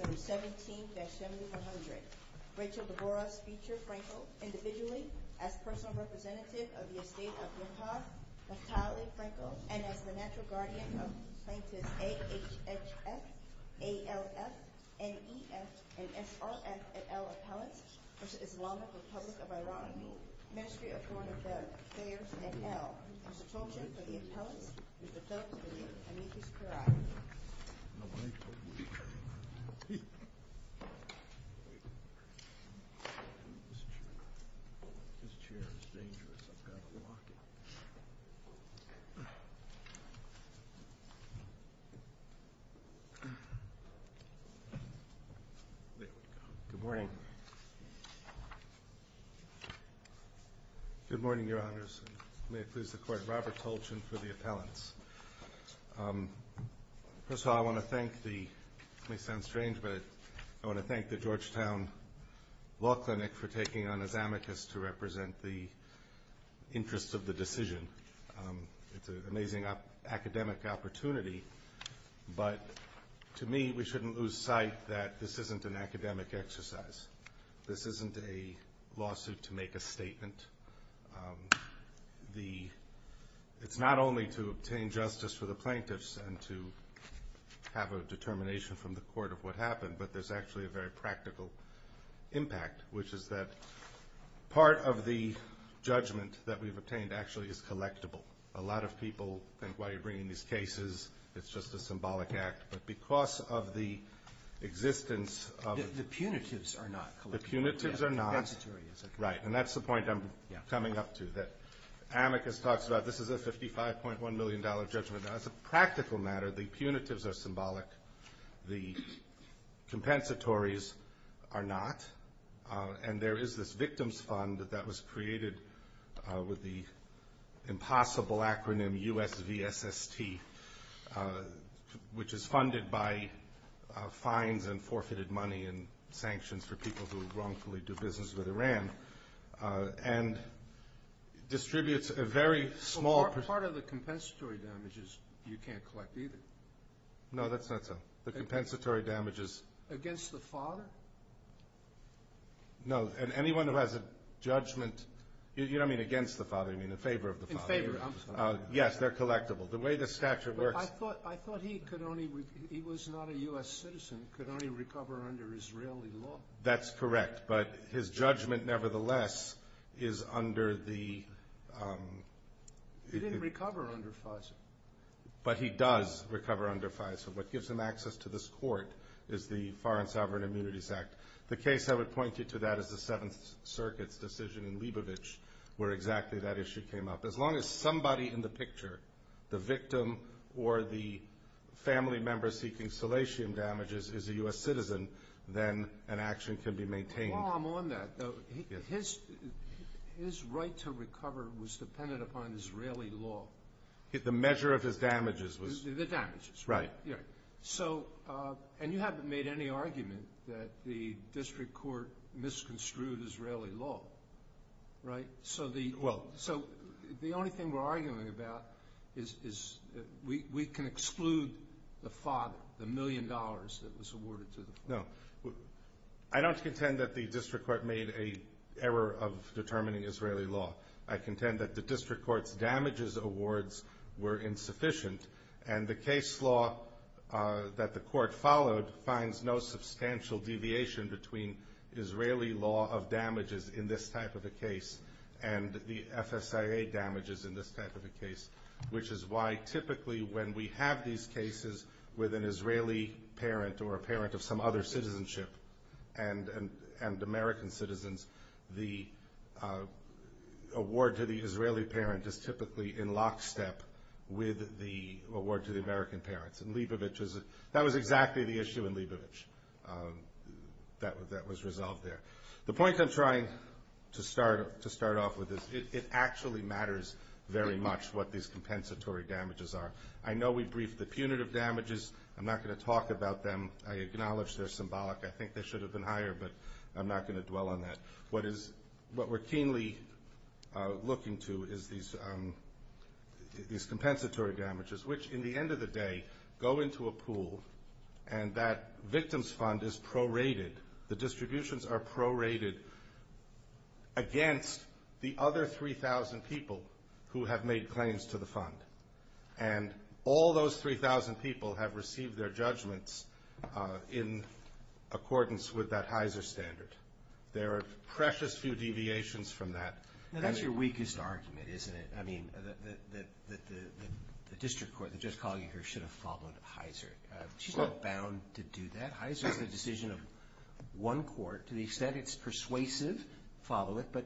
Case No. 17-7100 Rachel DeBorah's feature Fraenkel, individually, as personal representative of the estate of Yehud Naftali Fraenkel, and as the natural guardian of plaintiffs A. H. H. F., A. L. F., N. E. F., and S. R. F. et al. appellants, v. Islamic Republic of Iran, Ministry of Foreign Affairs et al., and substitution for the appellants, Mr. Philip DeWeer and Miki Skouraie. Mr. DeWeer. Good morning. Good morning, Your Honors. May it please the Court, Robert Tolchin for the appellants. First of all, I want to thank the, it may sound strange, but I want to thank the Georgetown Law Clinic for taking on as amicus to represent the interests of the decision. It's an amazing academic opportunity, but to me, we shouldn't lose sight that this isn't an academic exercise. This isn't a lawsuit to make a statement. It's not only to obtain justice for the plaintiffs and to have a determination from the court of what happened, but there's actually a very practical impact, which is that part of the judgment that we've obtained actually is collectible. A lot of people think, why are you bringing these cases? It's just a symbolic act, but because of the existence of the punitives are not collectible. The compensatory is. Right, and that's the point I'm coming up to, that amicus talks about this is a $55.1 million judgment. As a practical matter, the punitives are symbolic. The compensatories are not. And there is this victim's fund that was created with the impossible acronym USVSST, which is funded by fines and forfeited money and sanctions for people who wrongfully do business with Iran. Part of the compensatory damages, you can't collect either. No, that's not so. The compensatory damages. Against the father? No, and anyone who has a judgment, you don't mean against the father, you mean in favor of the father. In favor, I'm sorry. Yes, they're collectible. The way the statute works. I thought he could only, he was not a US citizen, could only recover under Israeli law. That's correct, but his judgment nevertheless is under the. He didn't recover under FISA. But he does recover under FISA. What gives him access to this court is the Foreign Sovereign Immunities Act. The case I would point you to that is the Seventh Circuit's decision in Leibovitz where exactly that issue came up. As long as somebody in the picture, the victim or the family member seeking salatium damages is a US citizen, then an action can be maintained. While I'm on that, his right to recover was dependent upon Israeli law. The measure of his damages was. The damages. Right. And you haven't made any argument that the district court misconstrued Israeli law. So the only thing we're arguing about is we can exclude the father, the million dollars that was awarded to the father. No. I don't contend that the district court made a error of determining Israeli law. I contend that the district court's damages awards were insufficient. And the case law that the court followed finds no substantial deviation between Israeli law of damages in this type of a case and the FSIA damages in this type of a case. Which is why typically when we have these cases with an Israeli parent or a parent of some other citizenship and American citizens, the award to the Israeli parent is typically in lockstep with the award to the American parents. And Leibovitz, that was exactly the issue in Leibovitz that was resolved there. The point I'm trying to start off with is it actually matters very much what these compensatory damages are. I know we briefed the punitive damages. I'm not going to talk about them. I acknowledge they're symbolic. I think they should have been higher, but I'm not going to dwell on that. What we're keenly looking to is these compensatory damages, which in the end of the day go into a pool and that victim's fund is prorated. The distributions are prorated against the other 3,000 people who have made claims to the fund. And all those 3,000 people have received their judgments in accordance with that Heiser standard. There are precious few deviations from that. Now that's your weakest argument, isn't it? I mean, that the district court that just called you here should have followed Heiser. She's not bound to do that. Heiser is the decision of one court. To the extent it's persuasive, follow it. But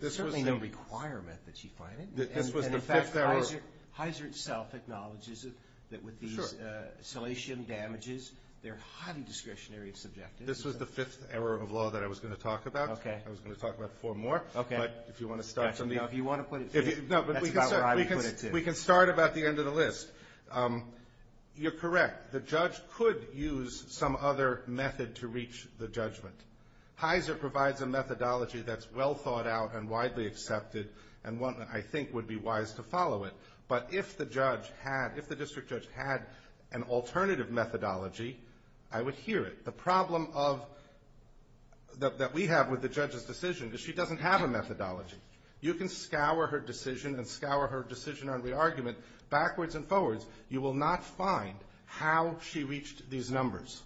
there's certainly no requirement that she find it. And in fact, Heiser itself acknowledges that with these salation damages, they're highly discretionary and subjective. This was the fifth error of law that I was going to talk about. I was going to talk about four more. But if you want to start, we can start about the end of the list. You're correct. The judge could use some other method to reach the judgment. Heiser provides a methodology that's well thought out and widely accepted and one that I think would be wise to follow it. But if the district judge had an alternative methodology, I would hear it. The problem that we have with the judge's decision is she doesn't have a methodology. You can scour her decision and scour her decision on re-argument backwards and forwards. You will not find how she reached these numbers.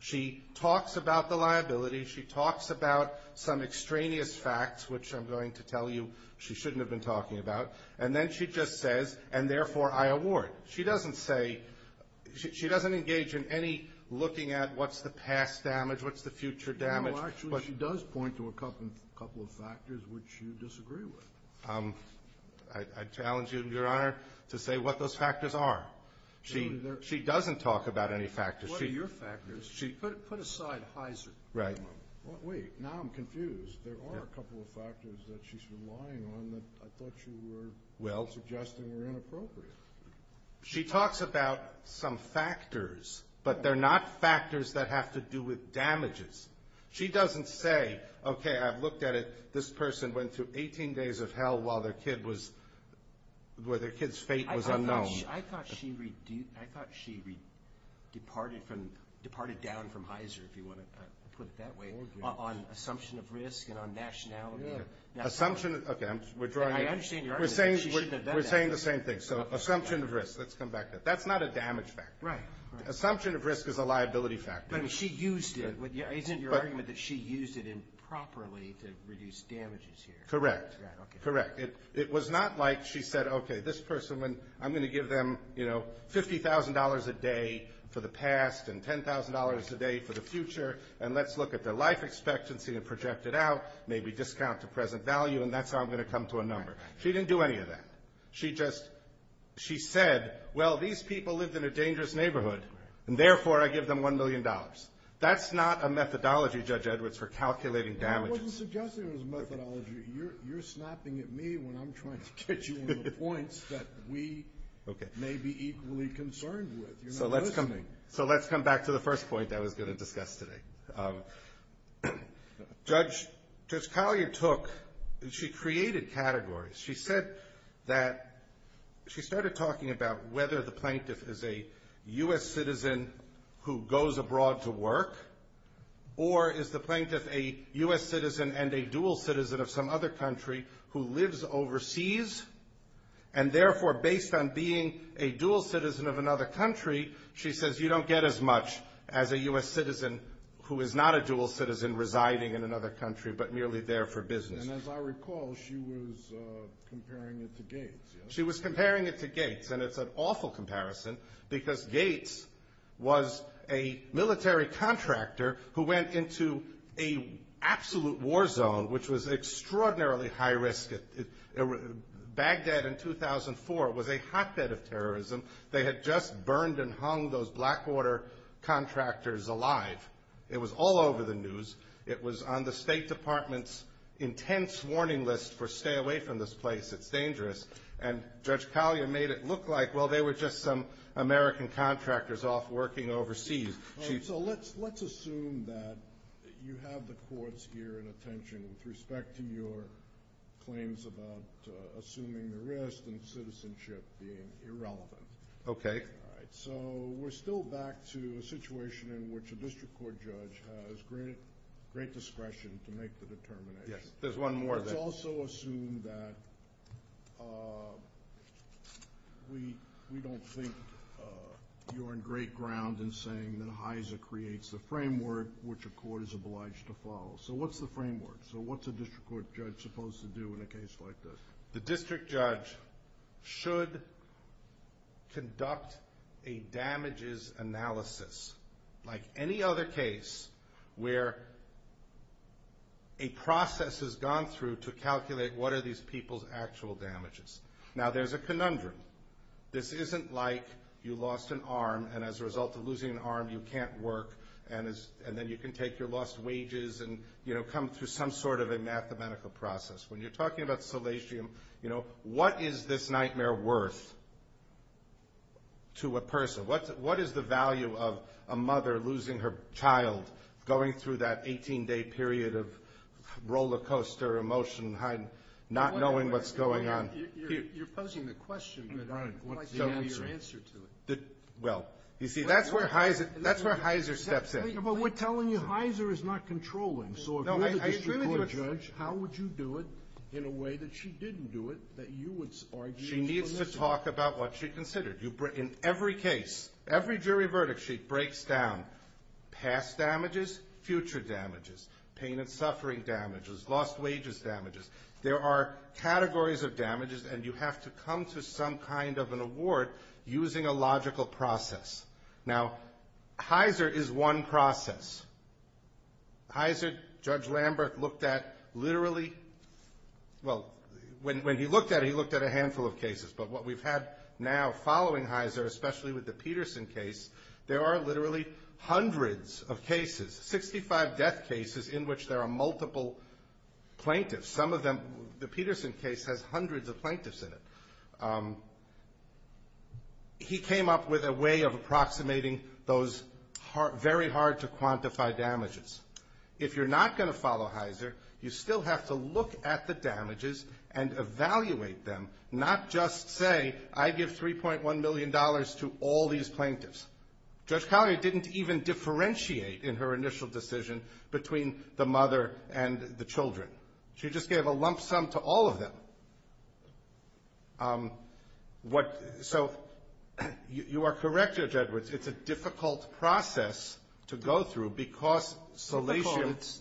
She talks about the liability. She talks about some extraneous facts, which I'm going to tell you she shouldn't have been talking about. And then she just says, and therefore I award. She doesn't say – she doesn't engage in any looking at what's the past damage, what's the future damage. Well, actually she does point to a couple of factors which you disagree with. I challenge you, Your Honor, to say what those factors are. She doesn't talk about any factors. What are your factors? Put aside Heiser for a moment. Wait, now I'm confused. There are a couple of factors that she's relying on that I thought you were suggesting were inappropriate. She talks about some factors, but they're not factors that have to do with damages. She doesn't say, okay, I've looked at it. This person went through 18 days of hell while their kid's fate was unknown. I thought she departed down from Heiser, if you want to put it that way, on assumption of risk and on nationality. Okay, we're drawing – I understand your argument that she shouldn't have done that. We're saying the same thing. So assumption of risk. Let's come back to it. That's not a damage factor. Right. Assumption of risk is a liability factor. But she used it. Isn't your argument that she used it improperly to reduce damages here? Correct. Correct. It was not like she said, okay, this person, I'm going to give them $50,000 a day for the past and $10,000 a day for the future, and let's look at their life expectancy and project it out, maybe discount to present value, and that's how I'm going to come to a number. She didn't do any of that. She just – she said, well, these people lived in a dangerous neighborhood, and therefore I give them $1 million. That's not a methodology, Judge Edwards, for calculating damages. I wasn't suggesting it was a methodology. You're snapping at me when I'm trying to get you on the points that we may be equally concerned with. So let's come back to the first point that I was going to discuss today. Judge Collier took – she created categories. She said that – she started talking about whether the plaintiff is a U.S. citizen who goes abroad to work or is the plaintiff a U.S. citizen and a dual citizen of some other country who lives overseas, and therefore based on being a dual citizen of another country, she says you don't get as much as a U.S. citizen who is not a dual citizen residing in another country but merely there for business. And as I recall, she was comparing it to Gates. She was comparing it to Gates, and it's an awful comparison because Gates was a military contractor who went into an absolute war zone, which was extraordinarily high risk. Baghdad in 2004 was a hotbed of terrorism. They had just burned and hung those Blackwater contractors alive. It was all over the news. It was on the State Department's intense warning list for stay away from this place. It's dangerous. And Judge Collier made it look like, well, they were just some American contractors off working overseas. So let's assume that you have the courts here in attention with respect to your claims about assuming the risk and citizenship being irrelevant. Okay. All right. So we're still back to a situation in which a district court judge has great discretion to make the determination. Yes, there's one more thing. Let's also assume that we don't think you're on great ground in saying that HISA creates the framework which a court is obliged to follow. So what's the framework? So what's a district court judge supposed to do in a case like this? The district judge should conduct a damages analysis, like any other case, where a process is gone through to calculate what are these people's actual damages. Now, there's a conundrum. This isn't like you lost an arm and as a result of losing an arm you can't work and then you can take your lost wages and, you know, come through some sort of a mathematical process. When you're talking about salatium, you know, what is this nightmare worth to a person? What is the value of a mother losing her child, going through that 18-day period of rollercoaster emotion, not knowing what's going on? You're posing the question, but I'd like to know your answer to it. Well, you see, that's where HISA steps in. But we're telling you HISA is not controlling. So if you're the district court judge, how would you do it in a way that she didn't do it, that you would argue? She needs to talk about what she considered. In every case, every jury verdict, she breaks down past damages, future damages, pain and suffering damages, lost wages damages. There are categories of damages, and you have to come to some kind of an award using a logical process. Now, HISA is one process. HISA, Judge Lambert looked at literally, well, when he looked at it, he looked at a handful of cases. But what we've had now following HISA, especially with the Peterson case, there are literally hundreds of cases, 65 death cases, in which there are multiple plaintiffs. Some of them, the Peterson case has hundreds of plaintiffs in it. He came up with a way of approximating those very hard-to-quantify damages. If you're not going to follow HISA, you still have to look at the damages and evaluate them, not just say, I give $3.1 million to all these plaintiffs. Judge Collier didn't even differentiate in her initial decision between the mother and the children. She just gave a lump sum to all of them. So you are correct, Judge Edwards. It's a difficult process to go through because solatium – Difficult.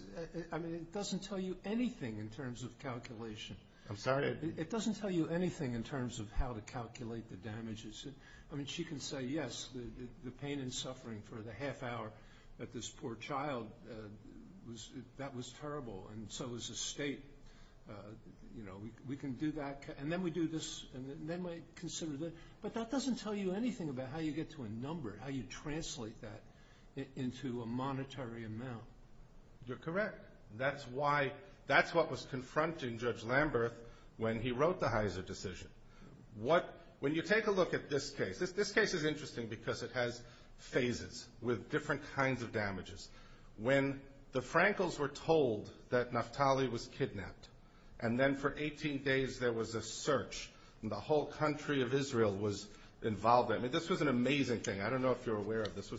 I mean, it doesn't tell you anything in terms of calculation. I'm sorry? It doesn't tell you anything in terms of how to calculate the damages. I mean, she can say, yes, the pain and suffering for the half hour that this poor child, that was terrible, and so is the state. You know, we can do that, and then we do this, and then we consider this. But that doesn't tell you anything about how you get to a number, how you translate that into a monetary amount. You're correct. That's what was confronting Judge Lamberth when he wrote the HISA decision. When you take a look at this case – this case is interesting because it has phases with different kinds of damages. When the Frankles were told that Naftali was kidnapped, and then for 18 days there was a search, and the whole country of Israel was involved. I mean, this was an amazing thing. I don't know if you're aware of this.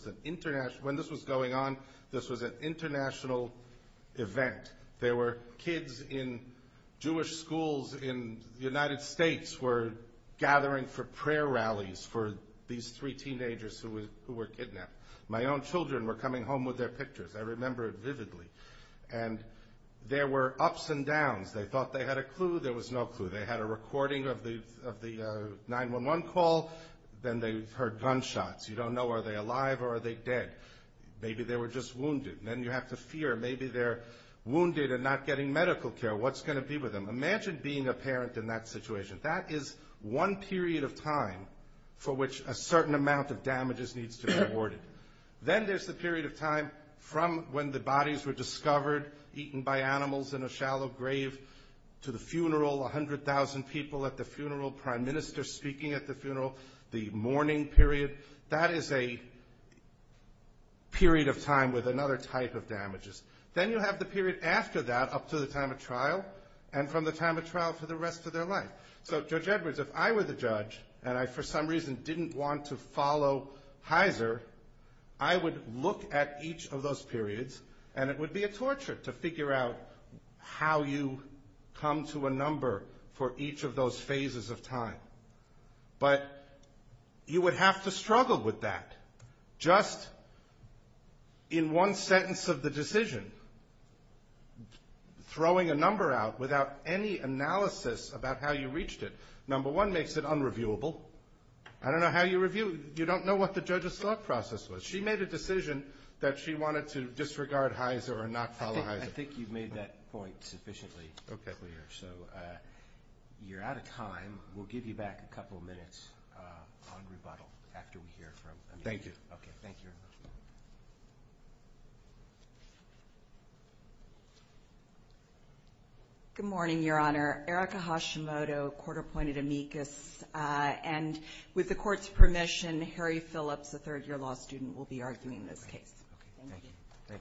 When this was going on, this was an international event. There were kids in Jewish schools in the United States were gathering for prayer rallies for these three teenagers who were kidnapped. My own children were coming home with their pictures. I remember it vividly. And there were ups and downs. They thought they had a clue. There was no clue. They had a recording of the 911 call. Then they heard gunshots. You don't know, are they alive or are they dead? Maybe they were just wounded. Then you have to fear. Maybe they're wounded and not getting medical care. What's going to be with them? Imagine being a parent in that situation. That is one period of time for which a certain amount of damages needs to be awarded. Then there's the period of time from when the bodies were discovered, eaten by animals in a shallow grave, to the funeral, 100,000 people at the funeral, prime minister speaking at the funeral, the mourning period. That is a period of time with another type of damages. Then you have the period after that up to the time of trial, and from the time of trial for the rest of their life. So, Judge Edwards, if I were the judge, and I for some reason didn't want to follow Heizer, I would look at each of those periods, and it would be a torture to figure out how you come to a number for each of those phases of time. But you would have to struggle with that. Just in one sentence of the decision, throwing a number out without any analysis about how you reached it, number one, makes it unreviewable. I don't know how you review it. You don't know what the judge's thought process was. She made a decision that she wanted to disregard Heizer or not follow Heizer. I think you've made that point sufficiently clear. So, you're out of time. We'll give you back a couple of minutes on rebuttal after we hear from Amanda. Thank you. Good morning, Your Honor. Erica Hashimoto, court-appointed amicus. And with the court's permission, Harry Phillips, a third-year law student, will be arguing this case. Good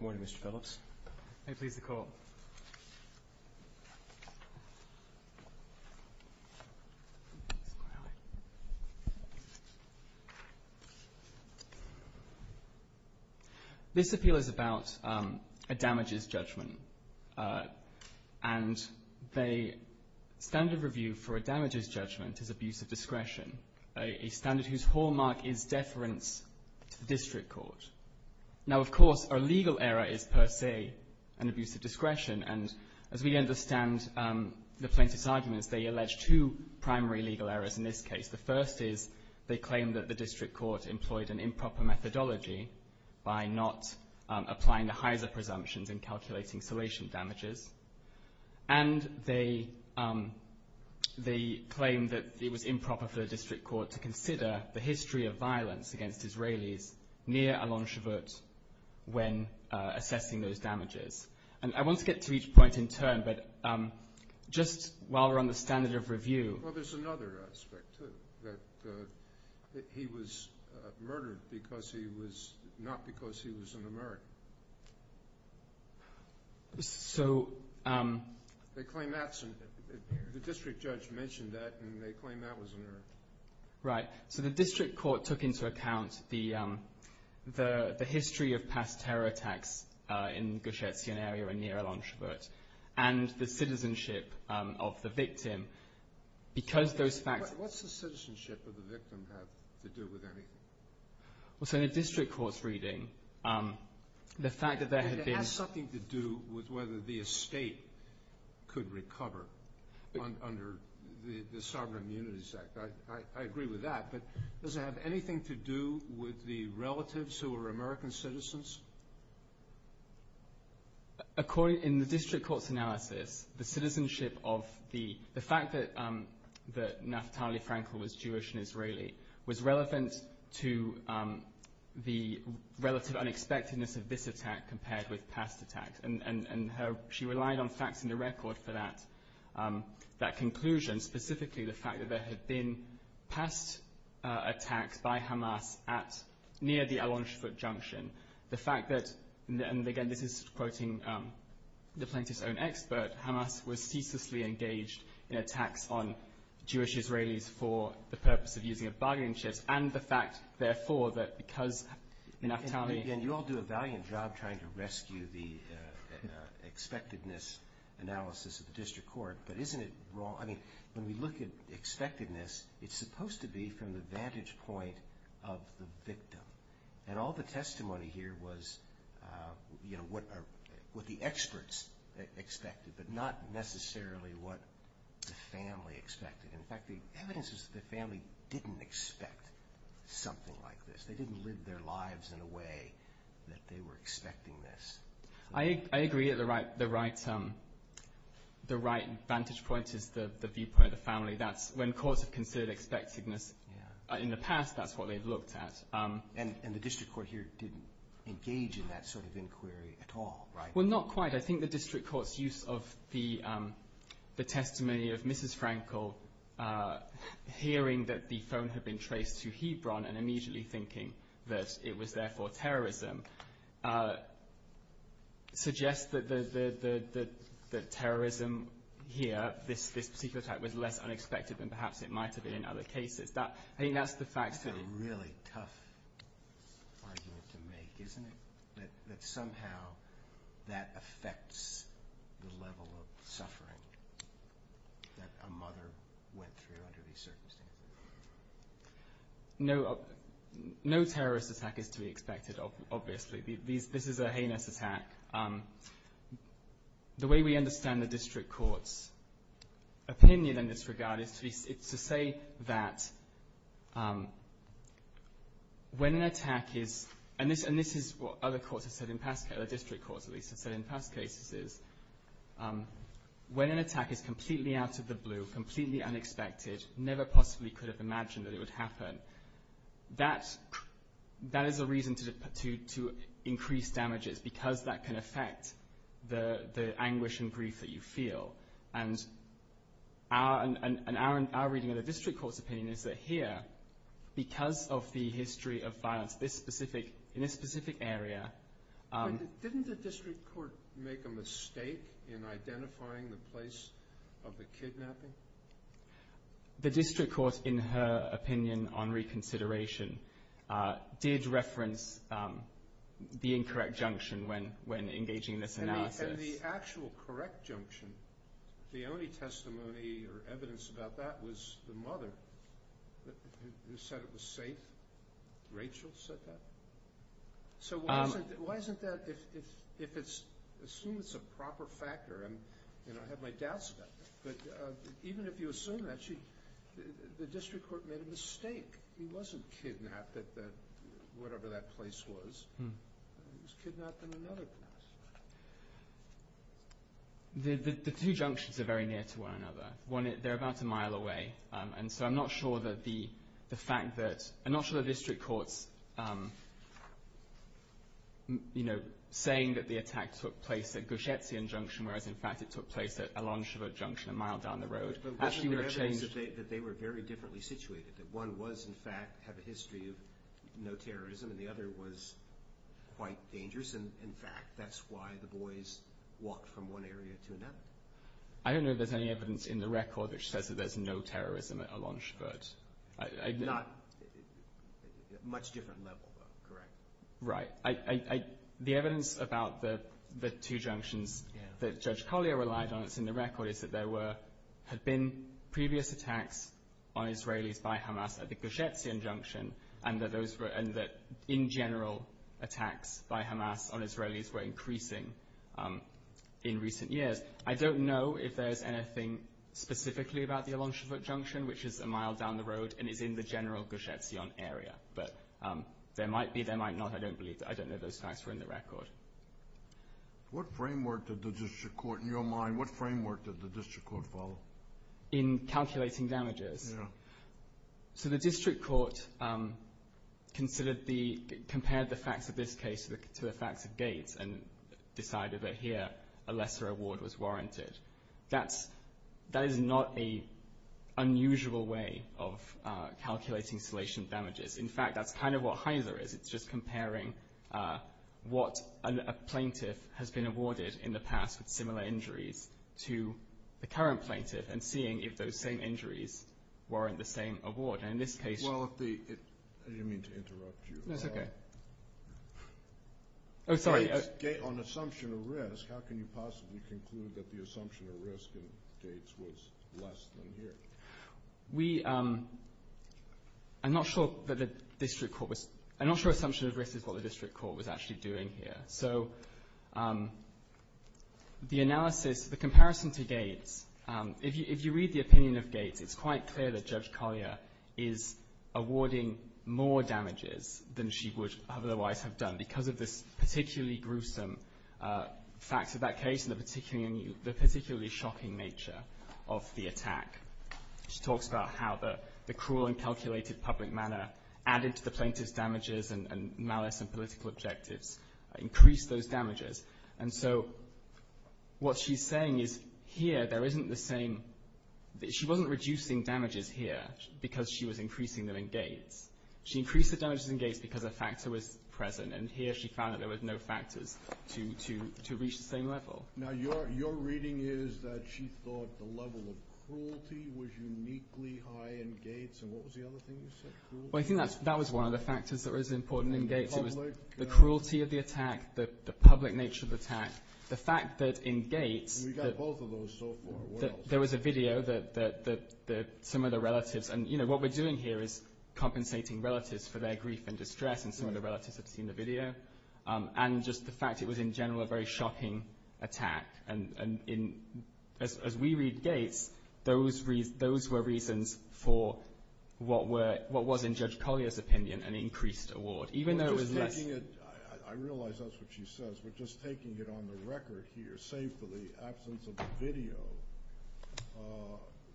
morning, Mr. Phillips. May it please the court. This appeal is about a damages judgment, and the standard of review for a damages judgment is abuse of discretion, a standard whose hallmark is deference to the district court. Now, of course, a legal error is per se an abuse of discretion, and as we understand the plaintiff's arguments, they allege two primary legal errors in this case. The first is they claim that the district court employed an improper methodology by not applying the Heizer presumptions in calculating salation damages, and they claim that it was improper for the district court to consider the history of violence against Israelis near Al-Anshavut when assessing those damages. And I want to get to each point in turn, but just while we're on the standard of review. Well, there's another aspect to it, that he was murdered not because he was an American. The district judge mentioned that, and they claim that was an error. Right. So the district court took into account the history of past terror attacks in Gush Etzion area near Al-Anshavut, and the citizenship of the victim because those facts- What's the citizenship of the victim have to do with anything? Well, so in a district court's reading, the fact that there had been- It has something to do with whether the estate could recover under the Sovereign Immunities Act. I agree with that, but does it have anything to do with the relatives who were American citizens? In the district court's analysis, the citizenship of the- was relevant to the relative unexpectedness of this attack compared with past attacks. And she relied on facts in the record for that conclusion, specifically the fact that there had been past attacks by Hamas near the Al-Anshavut junction. The fact that, and again, this is quoting the plaintiff's own expert, that Hamas was ceaselessly engaged in attacks on Jewish Israelis for the purpose of using a bargaining chip, and the fact, therefore, that because Naftali- And you all do a valiant job trying to rescue the expectedness analysis of the district court, but isn't it wrong? I mean, when we look at expectedness, it's supposed to be from the vantage point of the victim. And all the testimony here was, you know, what the experts expected, but not necessarily what the family expected. In fact, the evidence is that the family didn't expect something like this. They didn't live their lives in a way that they were expecting this. I agree that the right vantage point is the viewpoint of the family. When courts have considered expectedness in the past, that's what they've looked at. And the district court here didn't engage in that sort of inquiry at all, right? Well, not quite. I think the district court's use of the testimony of Mrs. Frankel hearing that the phone had been traced to Hebron and immediately thinking that it was therefore terrorism suggests that the terrorism here, this particular attack, was less unexpected than perhaps it might have been in other cases. That's a really tough argument to make, isn't it? That somehow that affects the level of suffering that a mother went through under these circumstances. No terrorist attack is to be expected, obviously. This is a heinous attack. The way we understand the district court's opinion in this regard is to say that when an attack is – and this is what other courts have said in past – the district courts, at least, have said in past cases is when an attack is completely out of the blue, completely unexpected, never possibly could have imagined that it would happen, that is a reason to increase damages because that can affect the anguish and grief that you feel. And our reading of the district court's opinion is that here, because of the history of violence in this specific area – Didn't the district court make a mistake in identifying the place of the kidnapping? The district court, in her opinion on reconsideration, did reference the incorrect junction when engaging in this analysis. And the actual correct junction, the only testimony or evidence about that was the mother who said it was safe. Rachel said that? So why isn't that – if it's – assume it's a proper factor. And, you know, I have my doubts about that. But even if you assume that, the district court made a mistake. He wasn't kidnapped at whatever that place was. He was kidnapped in another place. The two junctions are very near to one another. They're about a mile away. And so I'm not sure that the fact that – I'm not sure the district court's, you know, saying that the attack took place at Gush Etzion Junction, whereas in fact it took place at Alon Shevard Junction a mile down the road – But wasn't there evidence that they were very differently situated? That one was, in fact, had a history of no terrorism and the other was quite dangerous? And, in fact, that's why the boys walked from one area to another. I don't know if there's any evidence in the record which says that there's no terrorism at Alon Shevard. Not – much different level, though, correct? Right. The evidence about the two junctions that Judge Collier relied on that's in the record is that there were – had been previous attacks on Israelis by Hamas at the Gush Etzion Junction and that in general attacks by Hamas on Israelis were increasing in recent years. I don't know if there's anything specifically about the Alon Shevard Junction, which is a mile down the road and is in the general Gush Etzion area. But there might be, there might not. I don't believe – I don't know if those facts were in the record. What framework did the district court – in your mind, what framework did the district court follow? In calculating damages? Yeah. So the district court considered the – compared the facts of this case to the facts of Gates and decided that here a lesser award was warranted. That's – that is not an unusual way of calculating insulation damages. In fact, that's kind of what Heiser is. It's just comparing what a plaintiff has been awarded in the past with similar injuries to the current plaintiff and seeing if those same injuries warrant the same award. And in this case – Well, if the – I didn't mean to interrupt you. That's okay. Oh, sorry. On assumption of risk, how can you possibly conclude that the assumption of risk in Gates was less than here? We – I'm not sure that the district court was – I'm not sure assumption of risk is what the district court was actually doing here. So the analysis, the comparison to Gates, if you read the opinion of Gates, it's quite clear that Judge Collier is awarding more damages than she would otherwise have done because of this particularly gruesome facts of that case and the particularly shocking nature of the attack. She talks about how the cruel and calculated public manner added to the plaintiff's damages and malice and political objectives increased those damages. And so what she's saying is here there isn't the same – she wasn't reducing damages here because she was increasing them in Gates. She increased the damages in Gates because a factor was present. And here she found that there was no factors to reach the same level. Now, your reading is that she thought the level of cruelty was uniquely high in Gates. And what was the other thing you said? Well, I think that was one of the factors that was important in Gates. It was the cruelty of the attack, the public nature of the attack. The fact that in Gates – We got both of those so far. Where else? There was a video that some of the relatives – and what we're doing here is compensating relatives for their grief and distress, and some of the relatives have seen the video, and just the fact it was in general a very shocking attack. And as we read Gates, those were reasons for what was, in Judge Collier's opinion, an increased award. Even though it was less – I realize that's what she says, but just taking it on the record here, save for the absence of the video,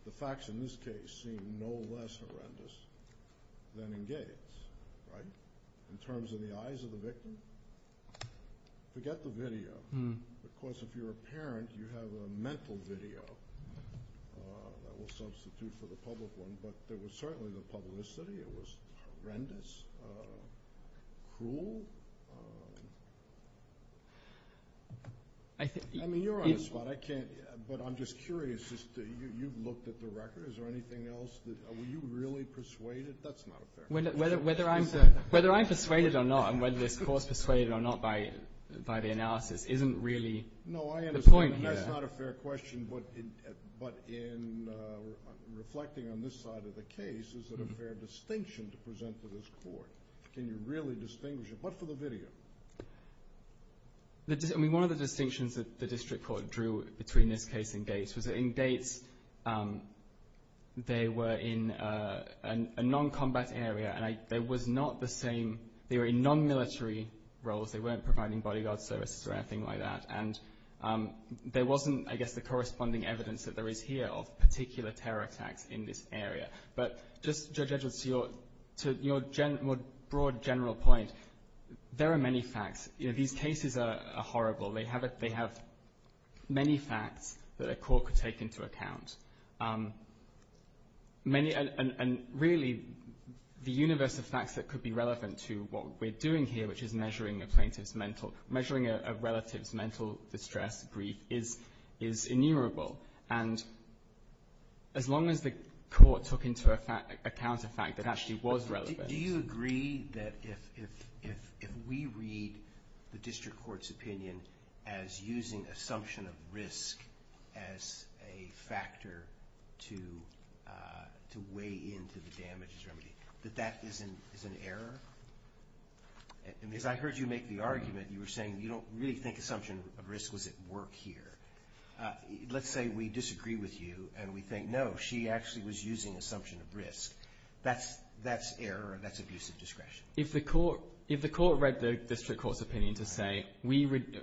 the facts in this case seem no less horrendous than in Gates. In terms of the eyes of the victim, forget the video. Of course, if you're a parent, you have a mental video that will substitute for the public one. But there was certainly the publicity. It was horrendous, cruel. I mean, you're on the spot, but I'm just curious. You've looked at the record. Is there anything else? Were you really persuaded? That's not a fair question. Whether I'm persuaded or not, and whether this Court's persuaded or not by the analysis, isn't really the point here. No, I understand. That's not a fair question, but in reflecting on this side of the case, is it a fair distinction to present to this Court? Can you really distinguish it? What for the video? I mean, one of the distinctions that the District Court drew between this case and Gates was that in Gates, they were in a non-combat area, and they were in non-military roles. They weren't providing bodyguard services or anything like that, and there wasn't, I guess, the corresponding evidence that there is here of particular terror attacks in this area. But just, Judge Edgeworth, to your more broad general point, there are many facts. These cases are horrible. They have many facts that a court could take into account, and really the universe of facts that could be relevant to what we're doing here, which is measuring a plaintiff's mental distress, grief, is innumerable. And as long as the court took into account a fact that actually was relevant. Do you agree that if we read the District Court's opinion as using assumption of risk as a factor to weigh in to the damages remedy, that that is an error? Because I heard you make the argument, you were saying you don't really think assumption of risk was at work here. Let's say we disagree with you, and we think, no, she actually was using assumption of risk. That's error, that's abusive discretion. If the court read the District Court's opinion to say,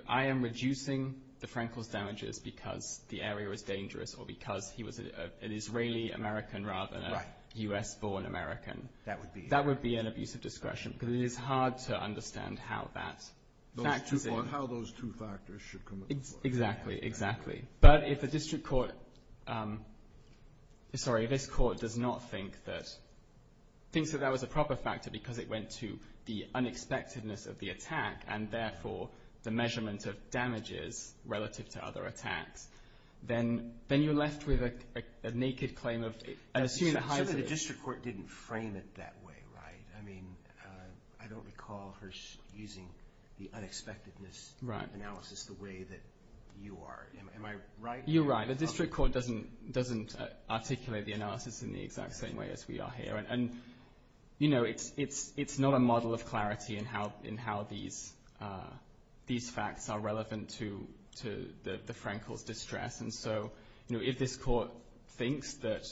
I am reducing the Frankel's damages because the area was dangerous, or because he was an Israeli-American rather than a U.S.-born American, that would be an abusive discretion, because it is hard to understand how that factors in. Or how those two factors should come into play. Exactly, exactly. But if the District Court, sorry, if this court does not think that, thinks that that was a proper factor because it went to the unexpectedness of the attack, and therefore the measurement of damages relative to other attacks, then you're left with a naked claim of, assuming the height of it. It's true that the District Court didn't frame it that way, right? I mean, I don't recall her using the unexpectedness analysis the way that you are. Am I right? You're right. The District Court doesn't articulate the analysis in the exact same way as we are here. And, you know, it's not a model of clarity in how these facts are relevant to the Frankel's distress. And so, you know, if this court thinks that,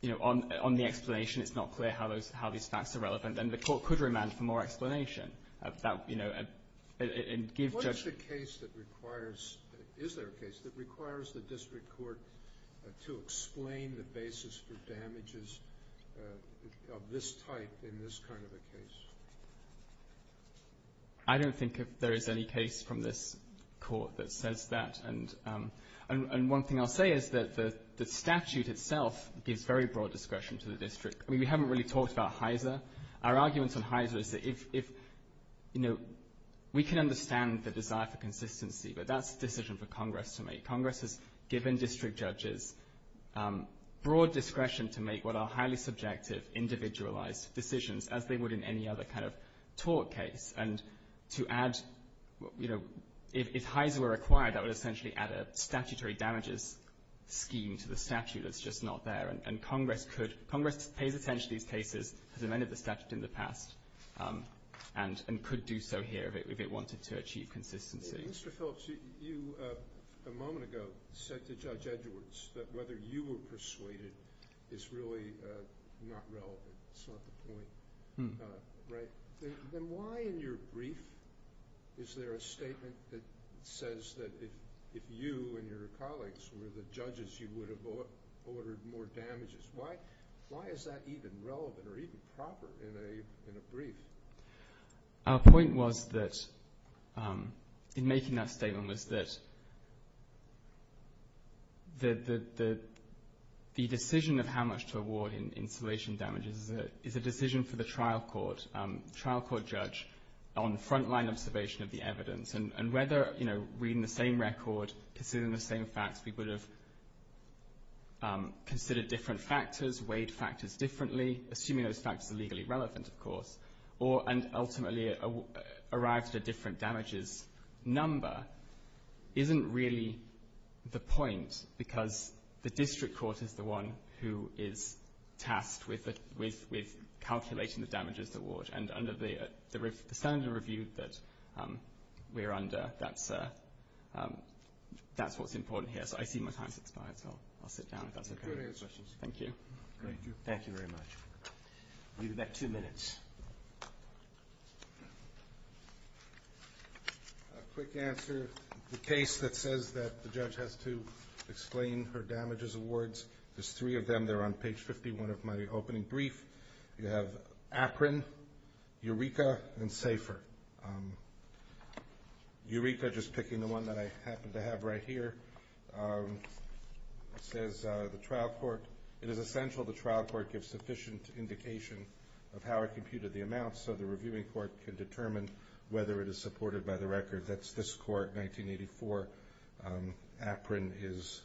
you know, on the explanation, it's not clear how these facts are relevant, then the court could remand for more explanation. What is the case that requires, is there a case, that requires the District Court to explain the basis for damages of this type in this kind of a case? I don't think there is any case from this court that says that. And one thing I'll say is that the statute itself gives very broad discretion to the district. I mean, we haven't really talked about HISA. Our argument on HISA is that if, you know, we can understand the desire for consistency, but that's a decision for Congress to make. Congress has given district judges broad discretion to make what are highly subjective, individualized decisions as they would in any other kind of tort case. And to add, you know, if HISA were required, that would essentially add a statutory damages scheme to the statute that's just not there. And Congress could, Congress pays attention to these cases, has amended the statute in the past, and could do so here if it wanted to achieve consistency. Mr. Phillips, you a moment ago said to Judge Edwards that whether you were persuaded is really not relevant. That's not the point, right? Then why in your brief is there a statement that says that if you and your colleagues were the judges, you would have ordered more damages? Why is that even relevant or even proper in a brief? Our point was that, in making that statement, was that the decision of how much to award in insulation damages is a decision for the trial court, trial court judge, on frontline observation of the evidence. And whether, you know, reading the same record, considering the same facts, we would have considered different factors, weighed factors differently, assuming those factors are legally relevant, of course, and ultimately arrived at a different damages number isn't really the point because the district court is the one who is tasked with calculating the damages to award. And under the standard review that we're under, that's what's important here. So I see my time's expired, so I'll sit down if that's okay. Thank you. Thank you. Thank you very much. We'll be back in two minutes. A quick answer. The case that says that the judge has to explain her damages awards, there's three of them. They're on page 51 of my opening brief. You have APRIN, EUREKA, and SAFER. EUREKA, just picking the one that I happen to have right here, says the trial court, it is essential the trial court gives sufficient indication of how it computed the amounts so the reviewing court can determine whether it is supported by the record. That's this court, 1984. APRIN is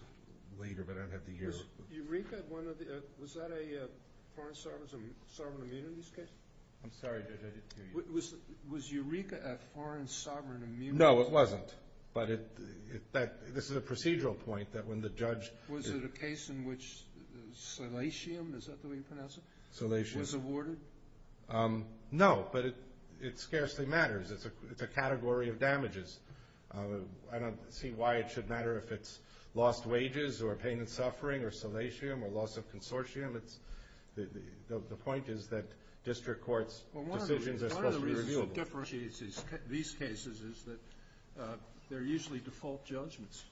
later, but I don't have the year. Was EUREKA one of the – was that a foreign sovereign immunity case? I'm sorry, Judge, I didn't hear you. Was EUREKA a foreign sovereign immunity? No, it wasn't. But this is a procedural point that when the judge – Was it a case in which salatium, is that the way you pronounce it? Salatium. Was awarded? No, but it scarcely matters. It's a category of damages. I don't see why it should matter if it's lost wages or pain and suffering or salatium or loss of consortium. The point is that district courts' decisions are supposed to be reviewable. What differentiates these cases is that they're usually default judgments.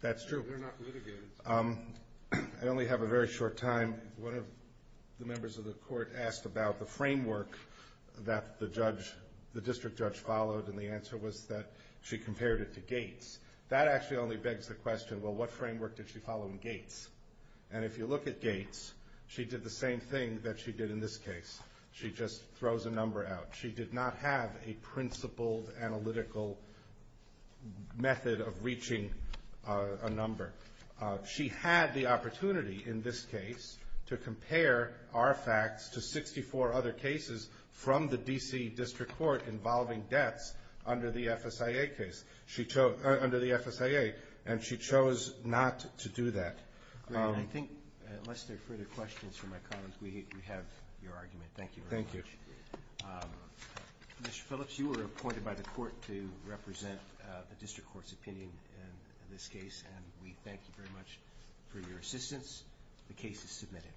That's true. They're not litigated. I only have a very short time. One of the members of the court asked about the framework that the judge – the district judge followed, and the answer was that she compared it to Gates. That actually only begs the question, well, what framework did she follow in Gates? And if you look at Gates, she did the same thing that she did in this case. She just throws a number out. She did not have a principled analytical method of reaching a number. She had the opportunity in this case to compare our facts to 64 other cases from the D.C. District Court involving debts under the FSIA case – under the FSIA, and she chose not to do that. I think unless there are further questions from my colleagues, we have your argument. Thank you very much. Mr. Phillips, you were appointed by the court to represent the district court's opinion in this case, and we thank you very much for your assistance. The case is submitted.